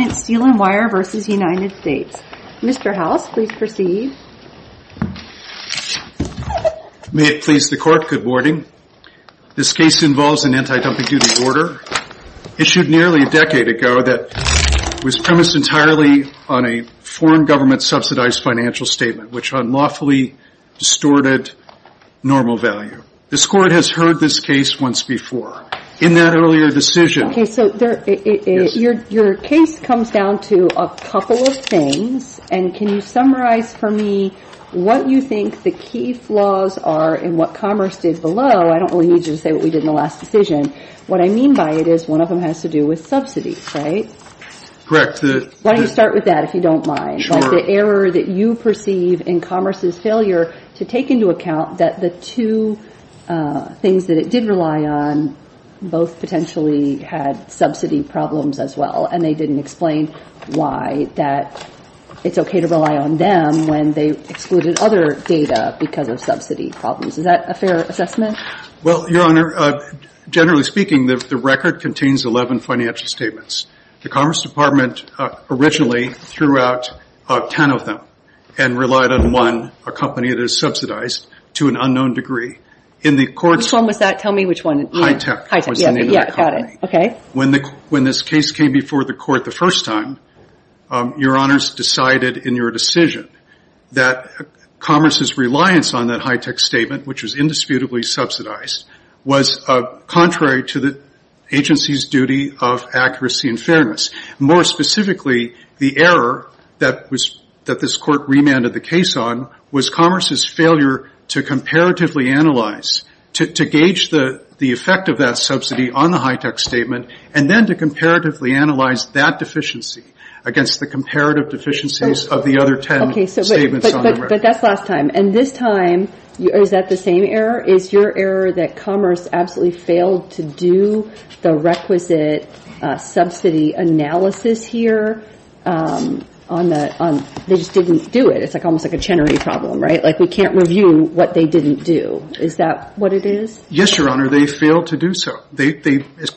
May it please the Court, good morning. This case involves an anti-dumping duty order, issued nearly a decade ago, that was premised entirely on a foreign government subsidized financial statement, which unlawfully distorted normal value. This Court has heard this case once before. In that earlier decision, your case comes to the forefront. It comes down to a couple of things, and can you summarize for me what you think the key flaws are in what Commerce did below? I don't really need you to say what we did in the last decision. What I mean by it is one of them has to do with subsidies, right? Correct. Why don't you start with that if you don't mind? Sure. The error that you perceive in Commerce's failure to take into account that the two things that it did rely on both potentially had subsidy problems as well, and they didn't explain why that it's okay to rely on them when they excluded other data because of subsidy problems. Is that a fair assessment? Well, Your Honor, generally speaking, the record contains 11 financial statements. The Commerce Department originally threw out 10 of them and relied on one, a company that is subsidized, to an unknown degree. In the Court's… Which one was that? Tell me which one. Hitech was the name of that company. When this case came before the Court the first time, Your Honor's decided in your decision that Commerce's reliance on that Hitech statement, which was indisputably subsidized, was contrary to the agency's duty of accuracy and fairness. More specifically, the error that this Court remanded the case on was Commerce's failure to comparatively analyze, to gauge the effect of that subsidy on the Hitech statement, and then to comparatively analyze that deficiency against the comparative deficiencies of the other 10 statements on the record. But that's last time. And this time, is that the same error? Is your error that Commerce absolutely failed to do the requisite subsidy analysis here? They just didn't do it. It's almost like a Chenery problem, right? We can't review what they didn't do. Is that what it is? Yes, Your Honor. They failed to do so. They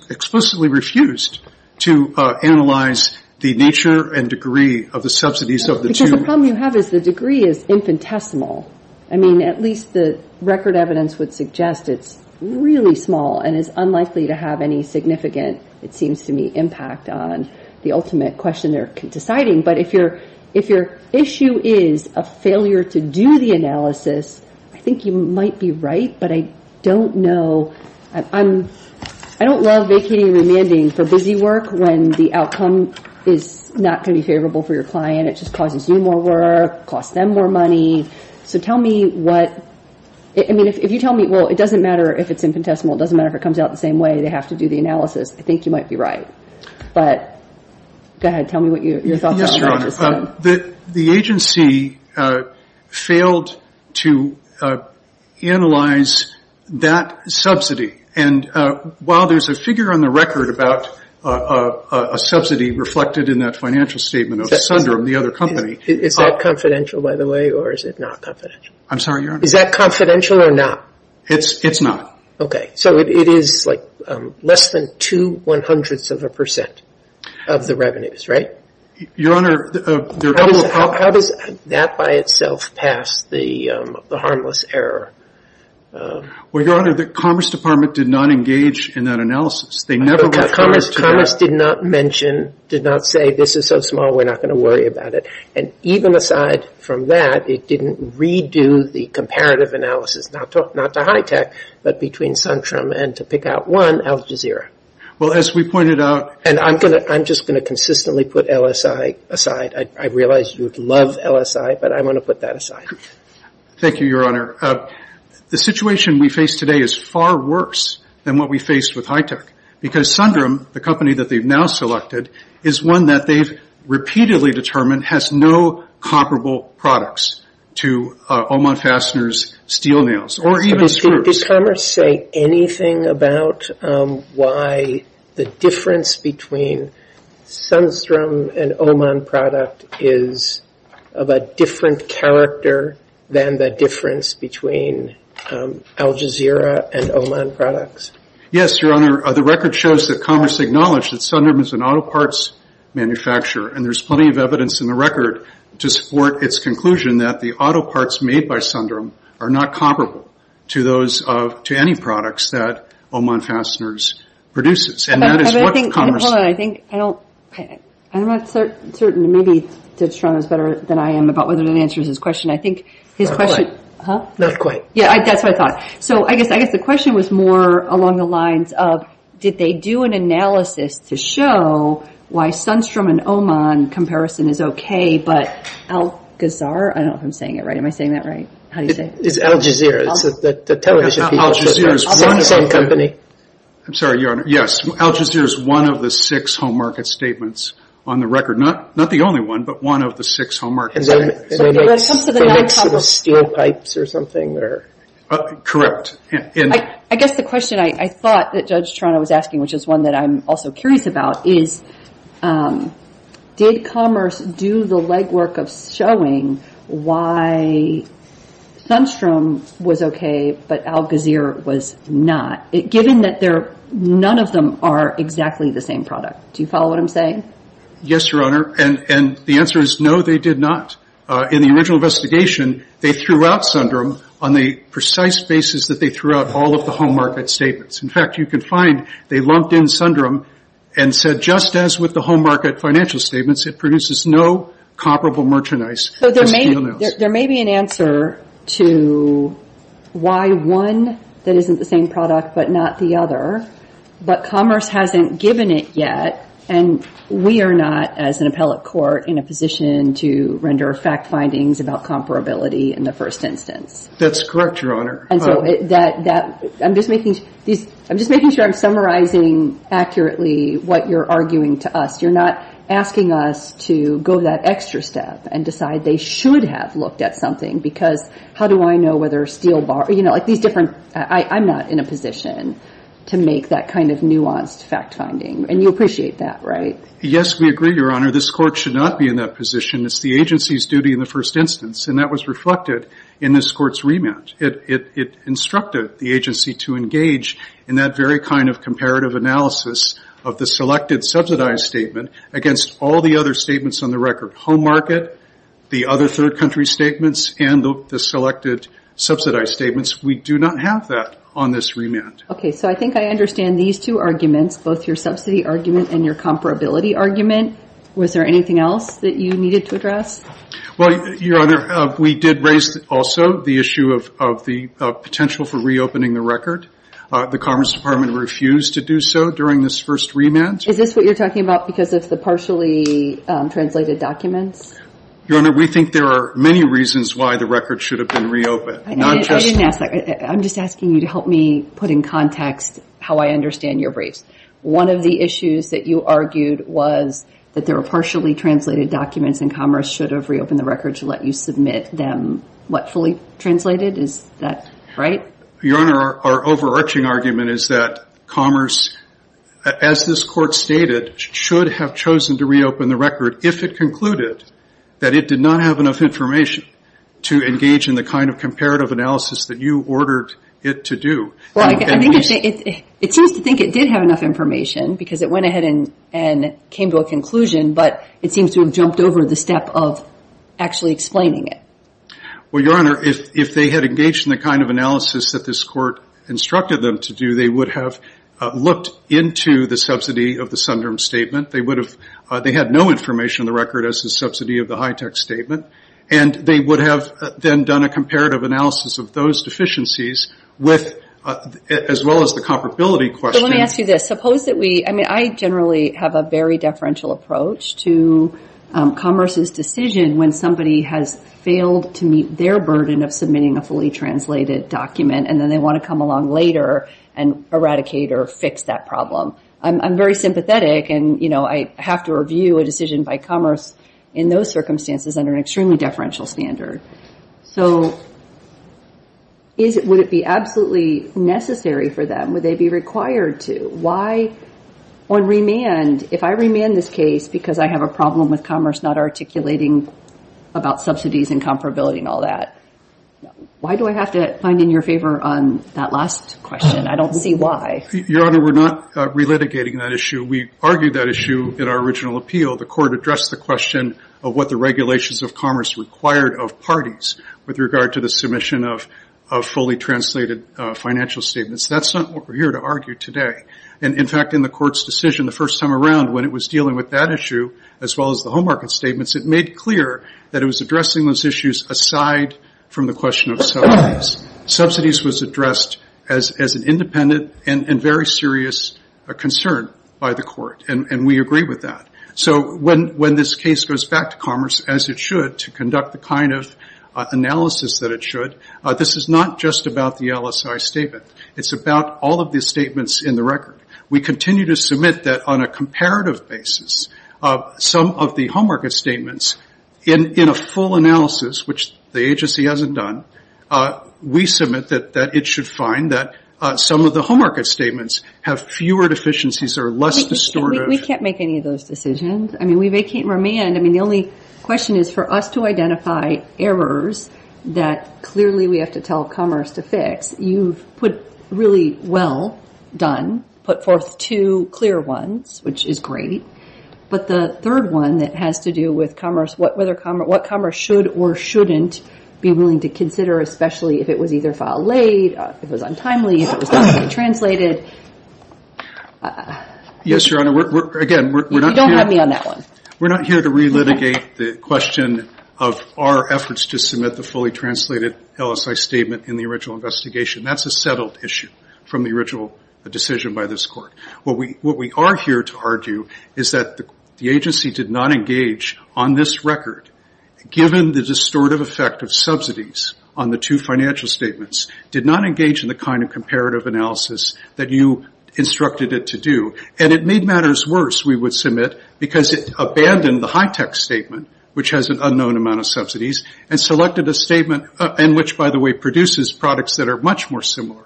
explicitly refused to analyze the nature and degree of the subsidies of the two… The problem you have is the degree is infinitesimal. I mean, at least the record evidence would suggest it's really small and is unlikely to have any significant, it seems to me, impact on the ultimate question they're deciding. But if your issue is a failure to do the analysis, I think you might be right, but I don't know. I don't love vacating and remanding for busy work when the outcome is not going to be favorable for your client. It just causes you more work, costs them more money. So tell me what… I mean, if you tell me, well, it doesn't matter if it's infinitesimal. It doesn't matter if it comes out the same way. They have to do the analysis. I think you might be right. But go ahead. Tell me what your thoughts are. Your Honor, the agency failed to analyze that subsidy. And while there's a figure on the record about a subsidy reflected in that financial statement of Sundram, the other company… Is that confidential, by the way, or is it not confidential? I'm sorry, Your Honor. Is that confidential or not? It's not. Okay. So it is like less than two one-hundredths of a percent of the revenues, right? Your Honor… How does that by itself pass the harmless error? Well, Your Honor, the Commerce Department did not engage in that analysis. They never referred to that. Commerce did not mention, did not say, this is so small, we're not going to worry about it. And even aside from that, it didn't redo the comparative analysis, not to HITECH, but between Sundram and to pick out one, Al Jazeera. Well, as we pointed out… And I'm just going to consistently put LSI aside. I realize you love LSI, but I want to put that aside. Thank you, Your Honor. The situation we face today is far worse than what we faced with HITECH. Because Sundram, the company that they've now selected, is one that they've repeatedly determined has no comparable products to Oman Fastener's steel nails or even screws. Your Honor, does Commerce say anything about why the difference between Sundram and Oman product is of a different character than the difference between Al Jazeera and Oman products? Yes, Your Honor. The record shows that Commerce acknowledged that Sundram is an auto parts manufacturer, and there's plenty of evidence in the record to support its conclusion that the auto parts made by Sundram are not comparable to any products that Oman Fastener's produces. Hold on, I think, I'm not certain, maybe Ted Strong is better than I am about whether that answers his question. I think his question… Not quite. Yeah, that's what I thought. So, I guess the question was more along the lines of, did they do an analysis to show why Sundram and Oman comparison is okay, but Al Gazar, I don't know if I'm saying it right. Am I saying that right? How do you say it? It's Al Jazeera. It's the television people. Al Jazeera is one such company. I'm sorry, Your Honor. Yes, Al Jazeera is one of the six home market statements on the record. Not the only one, but one of the six home market statements. They make steel pipes or something? Correct. I guess the question I thought that Judge Toronto was asking, which is one that I'm also curious about, is did Commerce do the legwork of showing why Sundram was okay, but Al Gazar was not, given that none of them are exactly the same product. Do you follow what I'm saying? Yes, Your Honor, and the answer is no, they did not. In the original investigation, they threw out Sundram on the precise basis that they threw out all of the home market statements. In fact, you can find they lumped in Sundram and said, just as with the home market financial statements, it produces no comparable merchandise as steel nails. There may be an answer to why one that isn't the same product, but not the other, but Commerce hasn't given it yet, and we are not, as an appellate court, in a position to render fact findings about comparability in the first instance. That's correct, Your Honor. I'm just making sure I'm summarizing accurately what you're arguing to us. You're not asking us to go that extra step and decide they should have looked at something, because how do I know whether steel bars, you know, like these different, I'm not in a position to make that kind of nuanced fact finding, and you appreciate that, right? Yes, we agree, Your Honor. This court should not be in that position. It's the agency's duty in the first instance, and that was reflected in this court's remand. It instructed the agency to engage in that very kind of comparative analysis of the selected subsidized statement against all the other statements on the record, home market, the other third country statements, and the selected subsidized statements. We do not have that on this remand. Okay, so I think I understand these two arguments, both your subsidy argument and your comparability argument. Was there anything else that you needed to address? Well, Your Honor, we did raise also the issue of the potential for reopening the record. The Commerce Department refused to do so during this first remand. Is this what you're talking about because of the partially translated documents? Your Honor, we think there are many reasons why the record should have been reopened. I didn't ask that. I'm just asking you to help me put in context how I understand your briefs. One of the issues that you argued was that there were partially translated documents, and Commerce should have reopened the record to let you submit them, what, fully translated? Is that right? Your Honor, our overarching argument is that Commerce, as this Court stated, should have chosen to reopen the record if it concluded that it did not have enough information to engage in the kind of comparative analysis that you ordered it to do. Well, it seems to think it did have enough information because it went ahead and came to a conclusion, but it seems to have jumped over the step of actually explaining it. Well, Your Honor, if they had engaged in the kind of analysis that this Court instructed them to do, they would have looked into the subsidy of the Sunderm Statement. They had no information on the record as the subsidy of the HITECH Statement, and they would have then done a comparative analysis of those deficiencies as well as the comparability question. Let me ask you this. I generally have a very deferential approach to Commerce's decision when somebody has failed to meet their burden of submitting a fully translated document, and then they want to come along later and eradicate or fix that problem. I'm very sympathetic, and I have to review a decision by Commerce in those circumstances under an extremely deferential standard. So would it be absolutely necessary for them? Would they be required to? Why, on remand, if I remand this case because I have a problem with Commerce not articulating about subsidies and comparability and all that, why do I have to find in your favor on that last question? I don't see why. Your Honor, we're not relitigating that issue. We argued that issue in our original appeal. The Court addressed the question of what the regulations of Commerce required of parties with regard to the submission of fully translated financial statements. That's not what we're here to argue today. In fact, in the Court's decision the first time around when it was dealing with that issue as well as the Home Market Statements, it made clear that it was addressing those issues aside from the question of subsidies. Subsidies was addressed as an independent and very serious concern by the Court, and we agree with that. So when this case goes back to Commerce, as it should, to conduct the kind of analysis that it should, this is not just about the LSI statement. It's about all of the statements in the record. We continue to submit that on a comparative basis, some of the Home Market Statements in a full analysis, which the agency hasn't done, we submit that it should find that some of the Home Market Statements have fewer deficiencies or are less distorted. We can't make any of those decisions. We vacate and remand. The only question is for us to identify errors that clearly we have to tell Commerce to fix. You've put really well done, put forth two clear ones, which is great, but the third one that has to do with what Commerce should or shouldn't be willing to consider, especially if it was either filed late, if it was untimely, if it was not fully translated. You don't have me on that one. We're not here to relitigate the question of our efforts to submit the fully translated LSI statement in the original investigation. That's a settled issue from the original decision by this Court. What we are here to argue is that the agency did not engage on this record, given the distortive effect of subsidies on the two financial statements, did not engage in the kind of comparative analysis that you instructed it to do. It made matters worse, we would submit, because it abandoned the high-tech statement, which has an unknown amount of subsidies, and selected a statement in which, by the way, produces products that are much more similar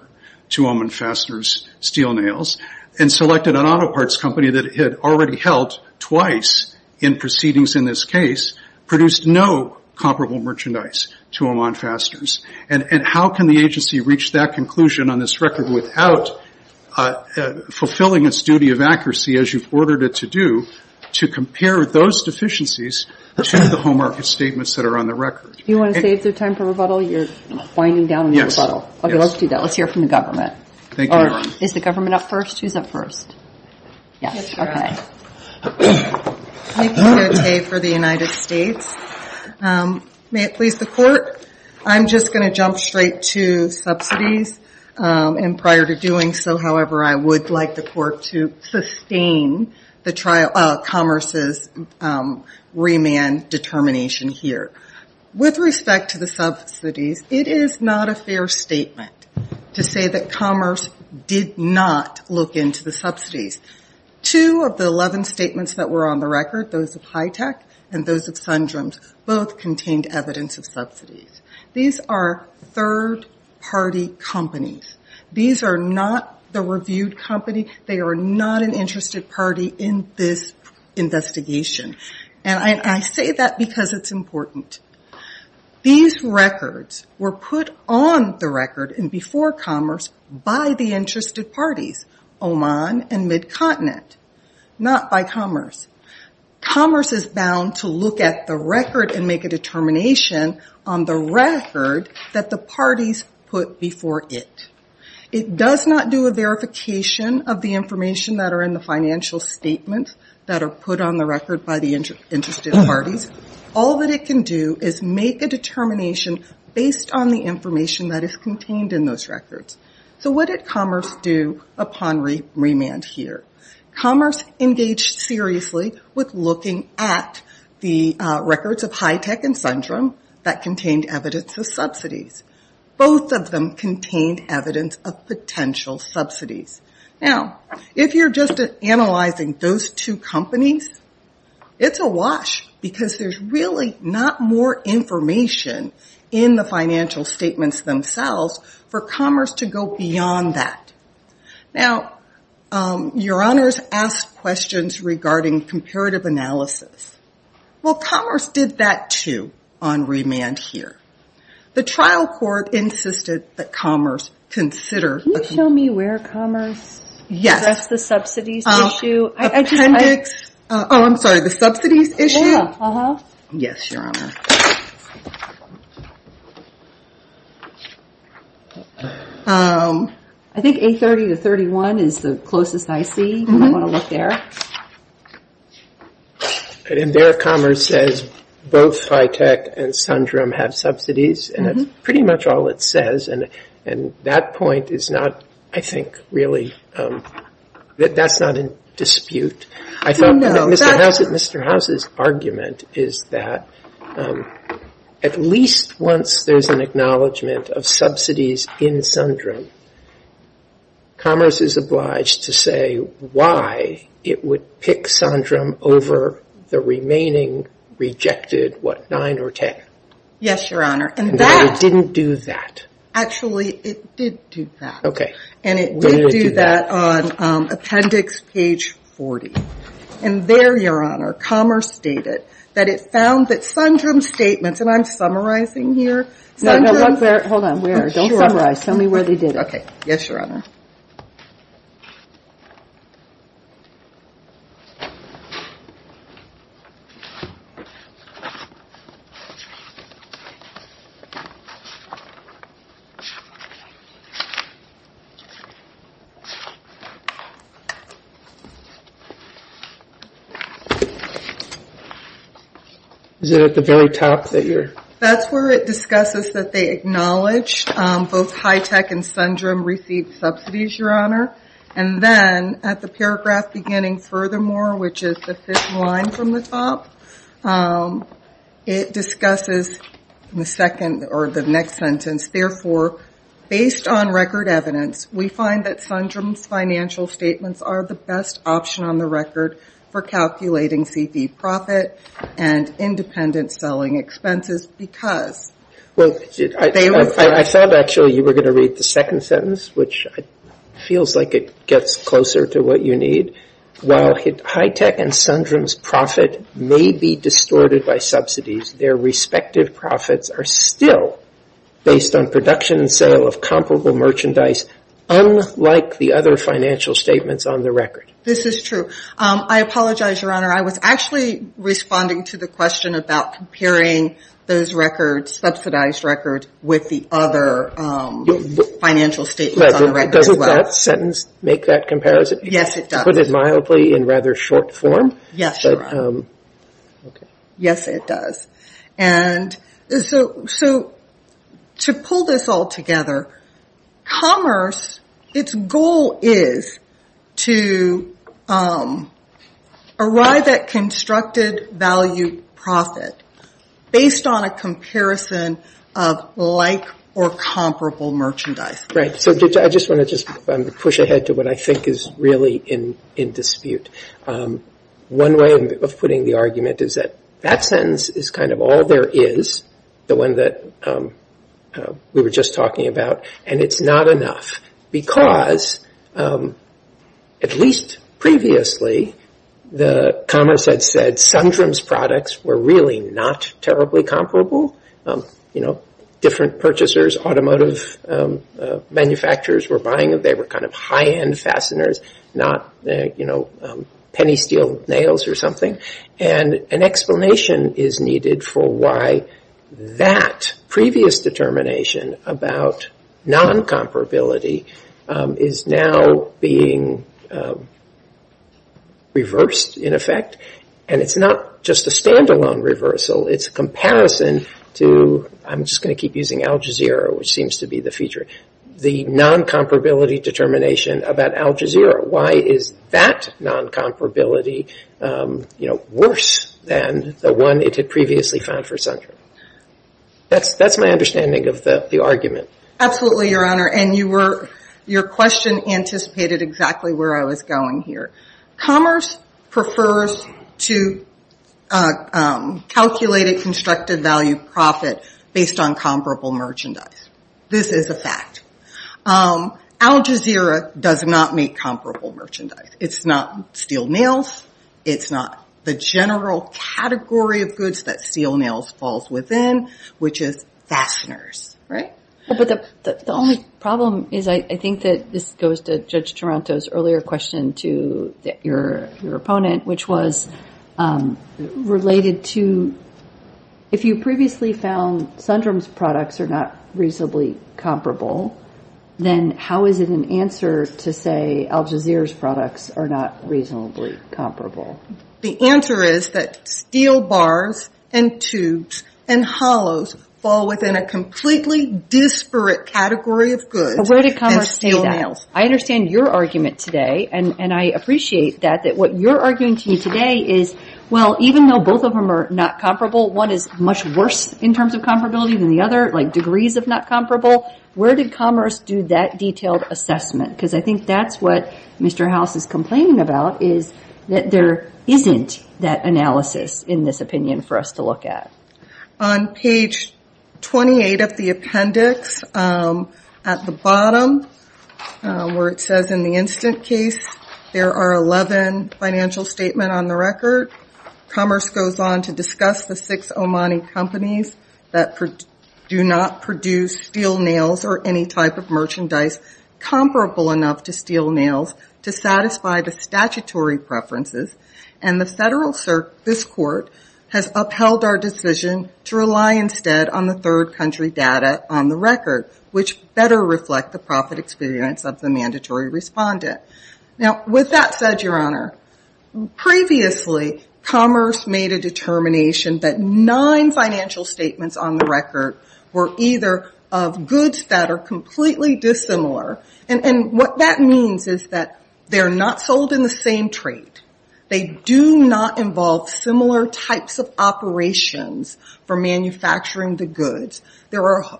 to Oman Fastener's steel nails, and selected an auto parts company that had already helped twice in proceedings in this case, produced no comparable merchandise to Oman Fastener's. And how can the agency reach that conclusion on this record without fulfilling its duty of accuracy, as you've ordered it to do, to compare those deficiencies to the home market statements that are on the record? You want to save the time for rebuttal? You're winding down on your rebuttal. Okay, let's do that. Let's hear from the government. Thank you, Your Honor. Is the government up first? Who's up first? Yes, Your Honor. Nikki Cote for the United States. May it please the Court, I'm just going to jump straight to subsidies. And prior to doing so, however, I would like the Court to sustain Commerce's remand determination here. With respect to the subsidies, it is not a fair statement to say that Commerce did not look into the subsidies. Two of the 11 statements that were on the record, those of Hitech and those of Sundram's, both contained evidence of subsidies. These are third-party companies. These are not the reviewed company. They are not an interested party in this investigation. And I say that because it's important. These records were put on the record and before Commerce by the interested parties, Oman and Mid-Continent, not by Commerce. Commerce is bound to look at the record and make a determination on the record that the parties put before it. It does not do a verification of the information that are in the financial statements that are put on the record by the interested parties. All that it can do is make a determination based on the information that is contained in those records. So what did Commerce do upon remand here? Commerce engaged seriously with looking at the records of Hitech and Sundram that contained evidence of subsidies. Both of them contained evidence of potential subsidies. Now, if you're just analyzing those two companies, it's a wash because there's really not more information in the financial statements themselves for Commerce to go beyond that. Now, your honors asked questions regarding comparative analysis. Well, Commerce did that too on remand here. The trial court insisted that Commerce consider. Can you show me where Commerce addressed the subsidies issue? Appendix. Oh, I'm sorry, the subsidies issue? Yes, your honor. I think 830 to 831 is the closest I see. And there Commerce says both Hitech and Sundram have subsidies. And that's pretty much all it says. And that point is not, I think, really, that's not in dispute. Mr. House's argument is that at least once there's an acknowledgment of subsidies in Sundram, Commerce is obliged to say why it would pick Sundram over the remaining rejected, what, 9 or 10. Yes, your honor. And that didn't do that. Actually, it did do that. And it did do that on appendix page 40. And there, your honor, Commerce stated that it found that Sundram's statements, and I'm summarizing here. Hold on, don't summarize. Tell me where they did it. Yes, your honor. Is it at the very top? That's where it discusses that they acknowledge both Hitech and Sundram received subsidies, your honor. And then at the paragraph beginning, furthermore, which is the fifth line from the top, it discusses in the second or the next sentence, therefore, based on record evidence, we find that Sundram's financial statements are the best option on the record for calculating CV profit and independent selling expenses because they were I thought, actually, you were going to read the second sentence, which feels like it gets closer to what you need. While Hitech and Sundram's profit may be distorted by subsidies, their respective profits are still based on production and sale of comparable merchandise, unlike the other financial statements on the record. This is true. I apologize, your honor. I was actually responding to the question about comparing those records, subsidized records, with the other financial statements on the record as well. Doesn't that sentence make that comparison? Yes, it does. Put it mildly in rather short form. Yes, your honor. Right. So I just want to push ahead to what I think is really in dispute. One way of putting the argument is that that sentence is kind of all there is, the one that we were just talking about. And it's not enough because, at least previously, the commerce had said Sundram's products were really not terribly comparable. You know, different purchasers, automotive manufacturers were buying them. They were kind of high-end fasteners, not, you know, penny steel nails or something. And an explanation is needed for why that previous determination about non-comparability is now being reversed, in effect. And it's not just a stand-alone reversal. It's a comparison to, I'm just going to keep using Al Jazeera, which seems to be the feature, the non-comparability determination about Al Jazeera. Why is that non-comparability, you know, worse than the one it had previously found for Sundram? That's my understanding of the argument. Absolutely, your honor. And your question anticipated exactly where I was going here. Commerce prefers to calculate a constructed value profit based on comparable merchandise. This is a fact. Al Jazeera does not make comparable merchandise. It's not steel nails. It's not the general category of goods that steel nails falls within, which is fasteners, right? But the only problem is, I think that this goes to Judge Toronto's earlier question to your opponent, which was related to, if you previously found Sundram's products are not reasonably comparable, then how is it an answer to say Al Jazeera's products are not reasonably comparable? The answer is that steel bars and tubes and hollows fall within a completely disparate category of goods than steel nails. I understand your argument today, and I appreciate that, that what you're arguing to me today is, well, even though both of them are not comparable, one is much worse in terms of comparability than the other, like degrees of not comparable. Where did Commerce do that detailed assessment? Because I think that's what Mr. House is complaining about, is that there isn't that analysis in this opinion for us to look at. On page 28 of the appendix, at the bottom, where it says in the instant case, there are 11 financial statements on the record. Commerce goes on to discuss the six Omani companies that do not produce steel nails or any type of merchandise comparable enough to steel nails to satisfy the statutory preferences. And the Federal Circuit, this Court, has upheld our decision to rely instead on the third country data on the record, which better reflect the profit experience of the mandatory respondent. Now, with that said, Your Honor, previously Commerce made a determination that nine financial statements on the record were either of goods that are completely dissimilar. And what that means is that they're not sold in the same trade. They do not involve similar types of operations for manufacturing the goods.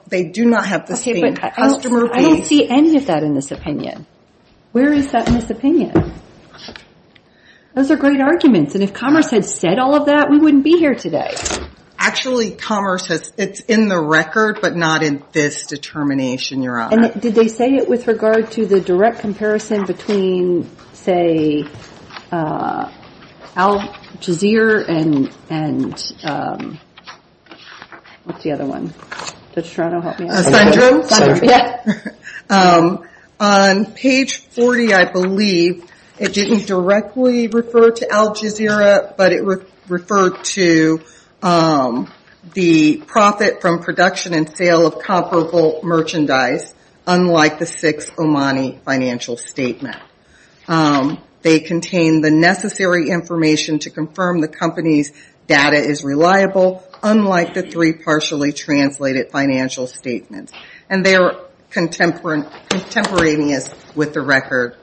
They do not have the same customer base. I don't see any of that in this opinion. Where is that in this opinion? Those are great arguments. And if Commerce had said all of that, we wouldn't be here today. Actually, Commerce says it's in the record, but not in this determination, Your Honor. And did they say it with regard to the direct comparison between, say, Al Jazeera and what's the other one? On page 40, I believe, it didn't directly refer to Al Jazeera, but it referred to the profit from production and sale of comparable merchandise, unlike the six Omani financial statements. They contain the necessary information to confirm the company's data is reliable, unlike the three partially translated financial statements. And they are contemporaneous with the record,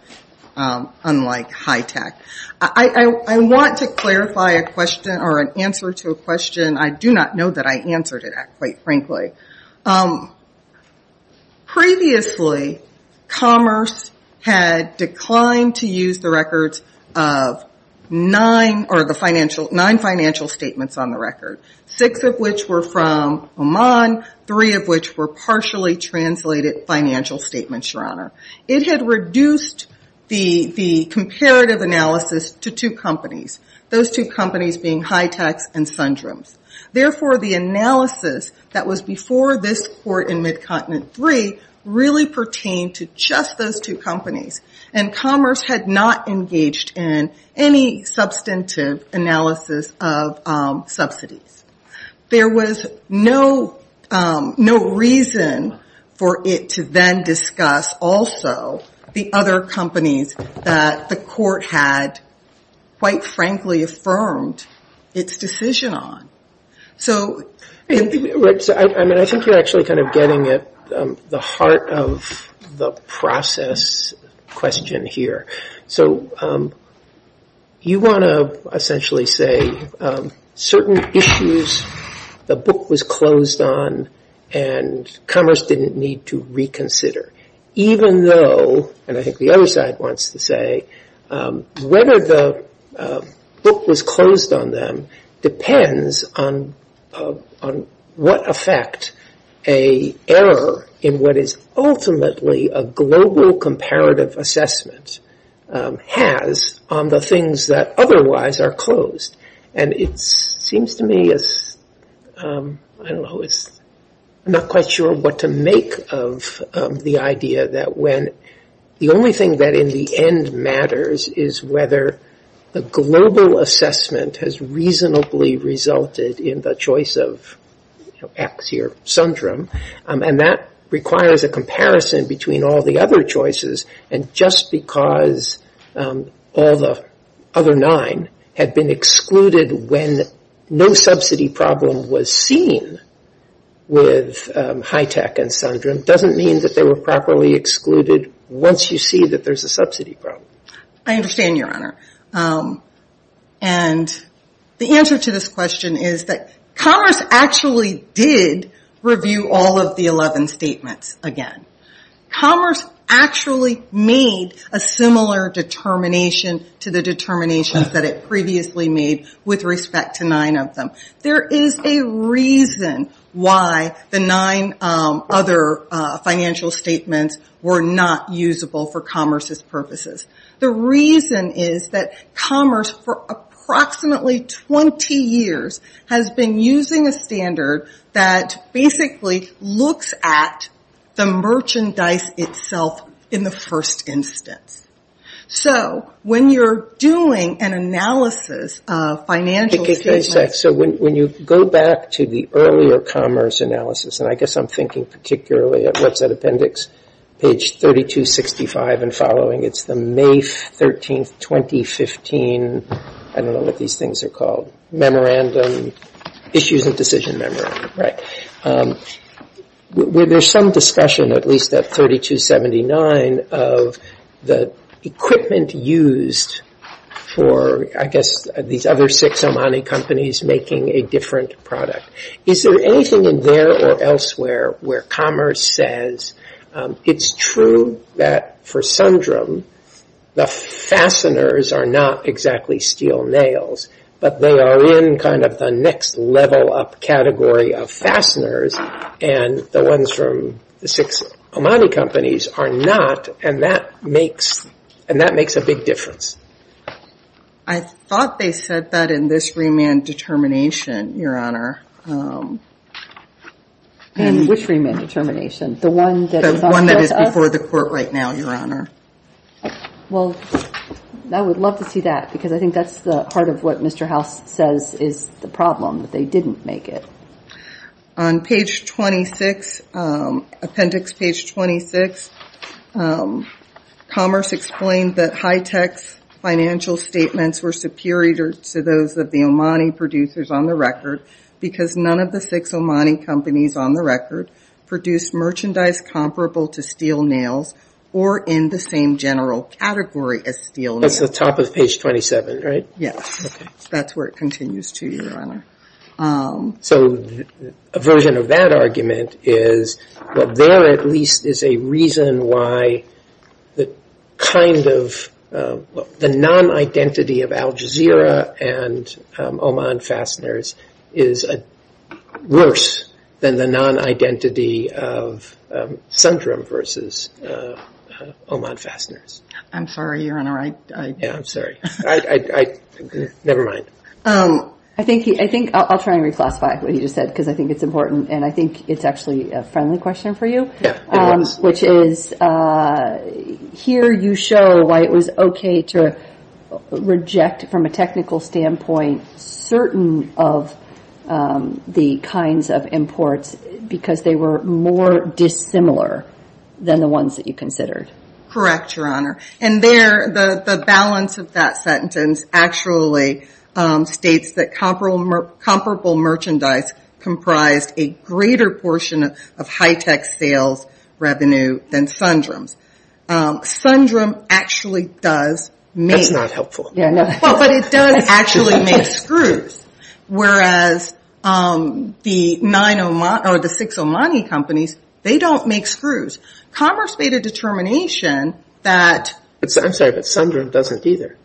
unlike HITECH. I want to clarify an answer to a question. I do not know that I answered it, quite frankly. Previously, Commerce had declined to use the records of nine financial statements on the record, six of which were from Oman, three of which were partially translated financial statements, Your Honor. It had reduced the comparative analysis to two companies, those two companies being HITECH and Sundrams. Therefore, the analysis that was before this court in Mid-Continent III really pertained to just those two companies, and Commerce had not engaged in any substantive analysis of subsidies. There was no reason for it to then discuss also the other companies that the court had, quite frankly, affirmed its decision on. I think you're actually kind of getting at the heart of the process question here. So you want to essentially say certain issues the book was closed on and Commerce didn't need to reconsider, even though, and I think the other side wants to say, whether the book was closed on them depends on whether or not the other side wants to reconsider. I'm not quite sure what to make of the idea that when the only thing that, in the end, matters is whether the global assessment has reasonably resulted in the decision to close the book. of X here, Sundram, and that requires a comparison between all the other choices, and just because all the other nine had been excluded when no subsidy problem was seen with HITECH and Sundram doesn't mean that they were properly excluded once you see that there's a subsidy problem. I understand, Your Honor, and the answer to this question is that Commerce actually did review all of the 11 statements again. Commerce actually made a similar determination to the determination that it previously made with respect to nine of them. There is a reason why the nine other financial statements were not usable for Commerce's purposes. The reason is that Commerce, for approximately 20 years, has been using a standard that basically looks at the merchandise itself in the first instance. So, when you're doing an analysis of financial statements... So, when you go back to the earlier Commerce analysis, and I guess I'm thinking particularly at Website Appendix, page 3265 and following, it's the May 13, 2015, I don't know what these things are called, Memorandum, Issues and Decision Memorandum, right? There's some discussion, at least at 3279, of the equipment used for, I guess, these other six Omani companies making a different product. Is there anything in there or elsewhere where Commerce says, it's true that for Sundram, the fasteners are not exactly steel nails, but they are in kind of the next level up category of fasteners, and the ones from the six Omani companies are not, and that makes a big difference? I thought they said that in this remand determination, Your Honor. In which remand determination? The one that is before the court right now, Your Honor? Well, I would love to see that, because I think that's the heart of what Mr. House says is the problem, that they didn't make it. On page 26, appendix page 26, Commerce explained that high-tech financial statements were superior to those of the Omani producers on the record, because none of the six Omani companies on the record produced merchandise comparable to steel nails or in the same general category as steel nails. That's the top of page 27, right? Yes. That's where it continues to, Your Honor. So a version of that argument is, well, there at least is a reason why the kind of, the non-identity of Al Jazeera and Oman fasteners is worse than the non-identity of Sundram versus Oman fasteners. I'm sorry, Your Honor. Yeah, I'm sorry. Never mind. I think, I'll try and reclassify what he just said, because I think it's important, and I think it's actually a friendly question for you. Yeah, it is. Which is, here you show why it was okay to reject from a technical standpoint certain of the kinds of imports, because they were more dissimilar than the ones that you considered. Correct, Your Honor. And there, the balance of that sentence actually states that comparable merchandise comprised a greater portion of high-tech sales revenue than Sundram's. Sundram actually does make. That's not helpful. Well, but it does actually make screws, whereas the six Omani companies, they don't make screws. Commerce made a determination that. I'm sorry, but Sundram doesn't either.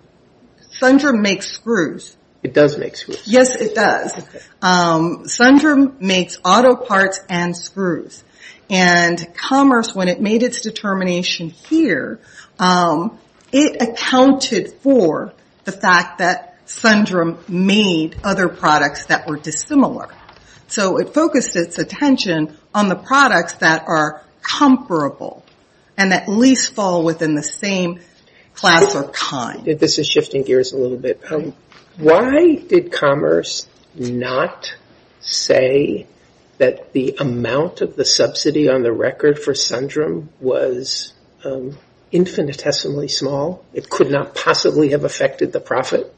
Sundram makes screws. It does make screws. Yes, it does. Okay. Sundram makes auto parts and screws. And Commerce, when it made its determination here, it accounted for the fact that Sundram made other products that were dissimilar. So it focused its attention on the products that are comparable and at least fall within the same class or kind. This is shifting gears a little bit. Why did Commerce not say that the amount of the subsidy on the record for Sundram was infinitesimally small? It could not possibly have affected the profit.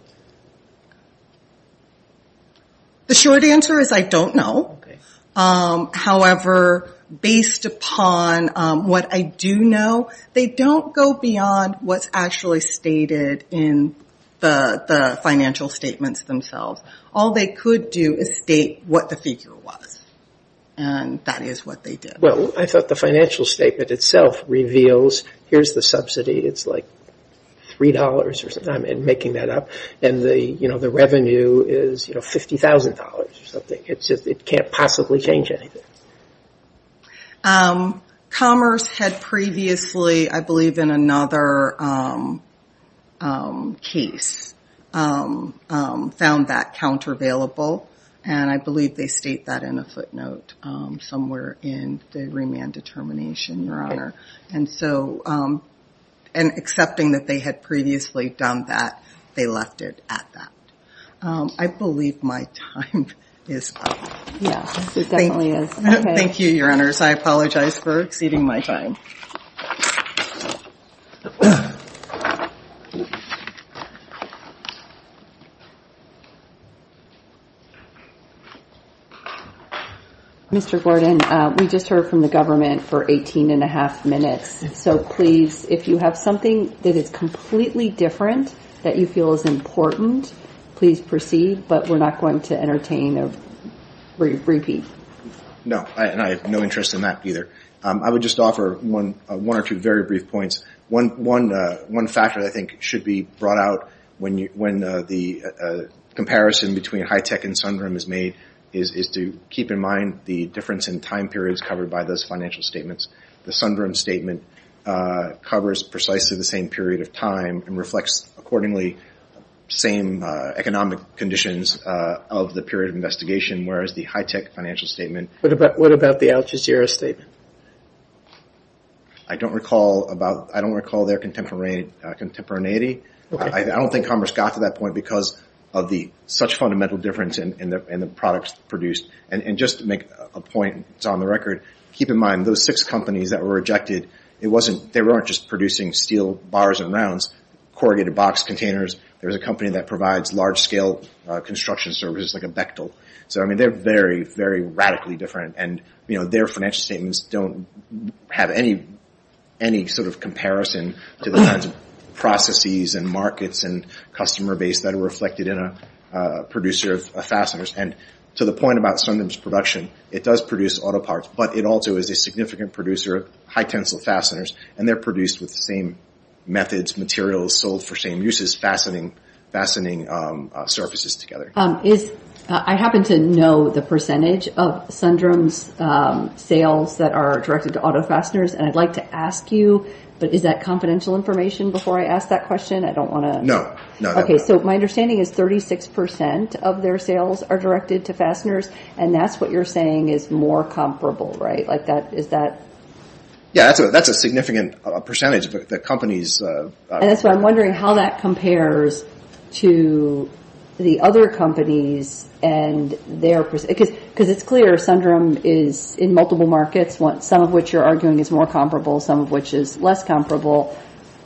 The short answer is I don't know. However, based upon what I do know, they don't go beyond what's actually stated in the financial statements themselves. All they could do is state what the figure was, and that is what they did. Well, I thought the financial statement itself reveals here's the subsidy. It's like $3 or something. I'm making that up. And the revenue is $50,000 or something. It can't possibly change anything. Commerce had previously, I believe in another case, found that countervailable. And I believe they state that in a footnote somewhere in the remand determination, Your Honor. And accepting that they had previously done that, they left it at that. I believe my time is up. Yes, it definitely is. Thank you, Your Honors. I apologize for exceeding my time. Mr. Gordon, we just heard from the government for 18 and a half minutes. So please, if you have something that is completely different that you feel is important, please proceed. But we're not going to entertain a brief repeat. No, and I have no interest in that either. I would just offer one or two very brief points. One factor that I think should be brought out when the comparison between high-tech and Sundrum is made is to keep in mind the difference in time periods covered by those financial statements. The Sundrum statement covers precisely the same period of time and reflects accordingly same economic conditions of the period of investigation, whereas the high-tech financial statement. What about the Al Jazeera statement? I don't recall their contemporaneity. I don't think commerce got to that point because of such fundamental difference in the products produced. And just to make a point that's on the record, keep in mind those six companies that were rejected, they weren't just producing steel bars and rounds, corrugated box containers. There was a company that provides large-scale construction services like a Bechtel. So they're very, very radically different, and their financial statements don't have any sort of comparison to the kinds of processes and markets and customer base that are reflected in a producer of fasteners. And to the point about Sundrum's production, it does produce auto parts, but it also is a significant producer of high-tensile fasteners, and they're produced with the same methods, materials, sold for same uses, fastening surfaces together. I happen to know the percentage of Sundrum's sales that are directed to auto fasteners, and I'd like to ask you, but is that confidential information before I ask that question? No. Okay, so my understanding is 36% of their sales are directed to fasteners, and that's what you're saying is more comparable, right? Yeah, that's a significant percentage. And that's why I'm wondering how that compares to the other companies and their – because it's clear Sundrum is in multiple markets, some of which you're arguing is more comparable, some of which is less comparable.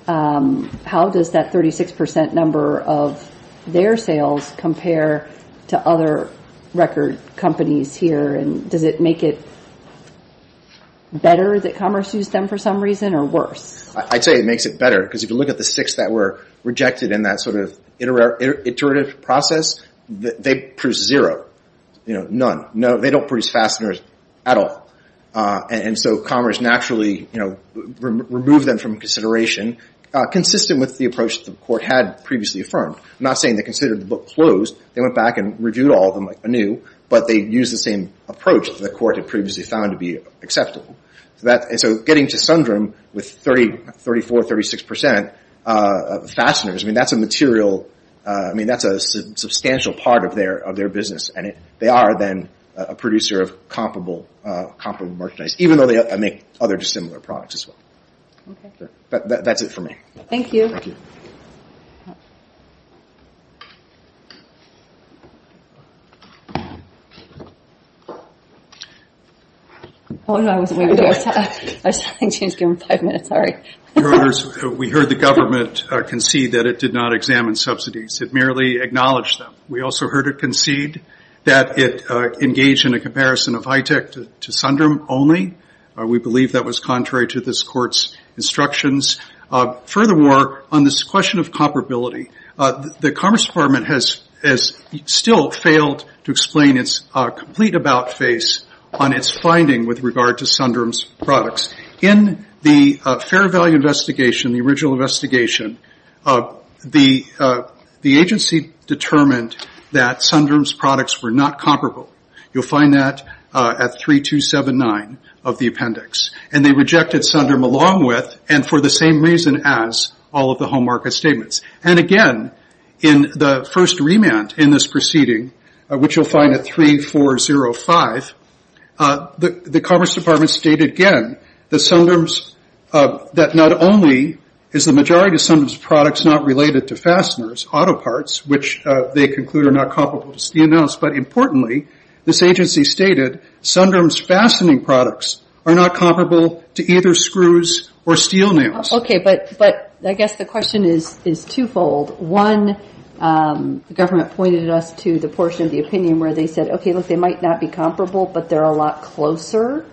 How does that 36% number of their sales compare to other record companies here, and does it make it better that commerce used them for some reason or worse? I'd say it makes it better, because if you look at the six that were rejected in that sort of iterative process, they produce zero, none. They don't produce fasteners at all, and so commerce naturally removed them from consideration, consistent with the approach the court had previously affirmed. I'm not saying they considered the book closed. They went back and reviewed all of them anew, but they used the same approach the court had previously found to be acceptable. So getting to Sundrum with 34%, 36% of fasteners, that's a material – that's a substantial part of their business, and they are then a producer of comparable merchandise, even though they make other dissimilar products as well. That's it for me. Thank you. Thank you. We heard the government concede that it did not examine subsidies. It merely acknowledged them. We also heard it concede that it engaged in a comparison of high-tech to Sundrum only. We believe that was contrary to this court's instructions. Furthermore, on this question of comparability, the Commerce Department has still failed to explain its complete about face on its finding with regard to Sundrum's products. In the fair value investigation, the original investigation, the agency determined that Sundrum's products were not comparable. You'll find that at 3279 of the appendix. And they rejected Sundrum along with and for the same reason as all of the home market statements. And again, in the first remand in this proceeding, which you'll find at 3405, the Commerce Department stated again that Sundrum's – that not only is the majority of Sundrum's products not related to fasteners, auto parts, which they conclude are not comparable to either screws or steel nails. Okay, but I guess the question is twofold. One, the government pointed us to the portion of the opinion where they said, okay, look, they might not be comparable, but they're a lot closer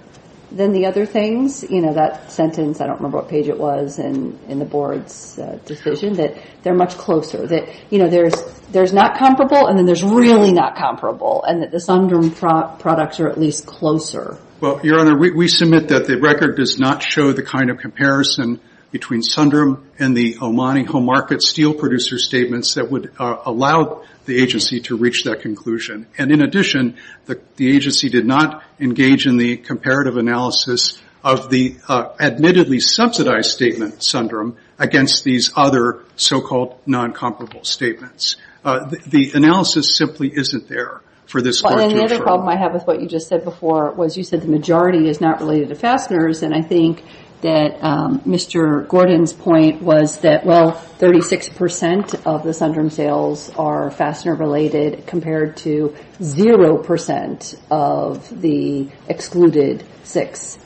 than the other things. You know, that sentence, I don't remember what page it was in the board's decision, that they're much closer. That, you know, there's not comparable, and then there's really not comparable. And that the Sundrum products are at least closer. Well, Your Honor, we submit that the record does not show the kind of comparison between Sundrum and the Omani home market steel producer statements that would allow the agency to reach that conclusion. And in addition, the agency did not engage in the comparative analysis of the admittedly subsidized statement Sundrum against these other so-called non-comparable statements. The analysis simply isn't there for this court to infer. Well, and another problem I have with what you just said before was you said the majority is not related to fasteners, and I think that Mr. Gordon's point was that, well, 36% of the Sundrum sales are fastener-related compared to 0% of the excluded six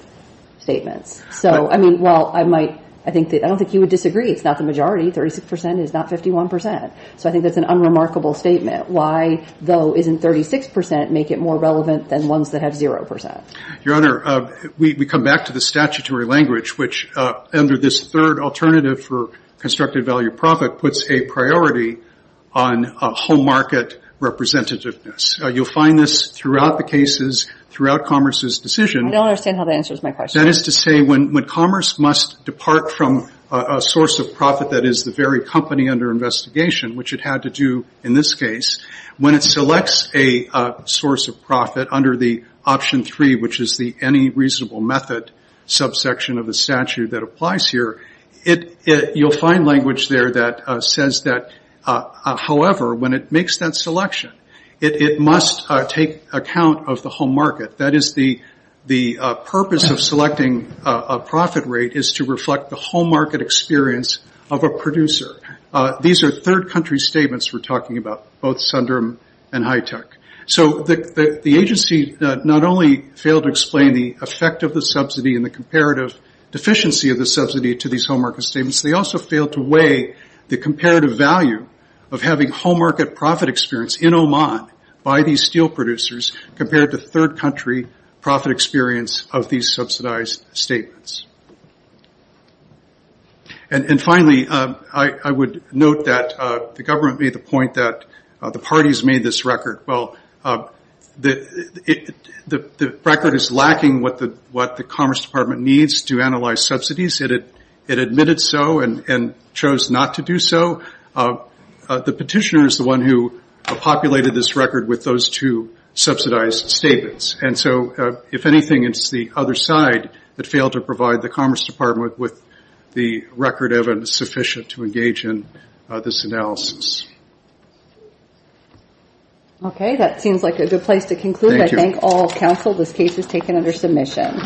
statements. So, I mean, well, I don't think you would disagree. It's not the majority. 36% is not 51%. So I think that's an unremarkable statement. Why, though, isn't 36% make it more relevant than ones that have 0%? Your Honor, we come back to the statutory language, which under this third alternative for constructed value of profit puts a priority on home market representativeness. You'll find this throughout the cases, throughout Commerce's decision. I don't understand how that answers my question. That is to say when Commerce must depart from a source of profit that is the very company under investigation, which it had to do in this case, when it selects a source of profit under the option three, which is the any reasonable method subsection of the statute that applies here, you'll find language there that says that, however, when it makes that selection, it must take account of the home market. That is the purpose of selecting a profit rate is to reflect the home market experience of a producer. These are third country statements we're talking about, both Sundram and Hitech. So the agency not only failed to explain the effect of the subsidy and the comparative deficiency of the subsidy to these home market statements, they also failed to weigh the comparative value of having home market profit experience in Oman by these steel producers compared to third country profit experience of these subsidized statements. Finally, I would note that the government made the point that the parties made this record. The record is lacking what the Commerce Department needs to analyze subsidies. It admitted so and chose not to do so. The petitioner is the one who populated this record with those two subsidized statements. If anything, it's the other side that failed to provide the Commerce Department with the record of sufficient to engage in this analysis. Okay, that seems like a good place to conclude. I thank all counsel. This case is taken under submission.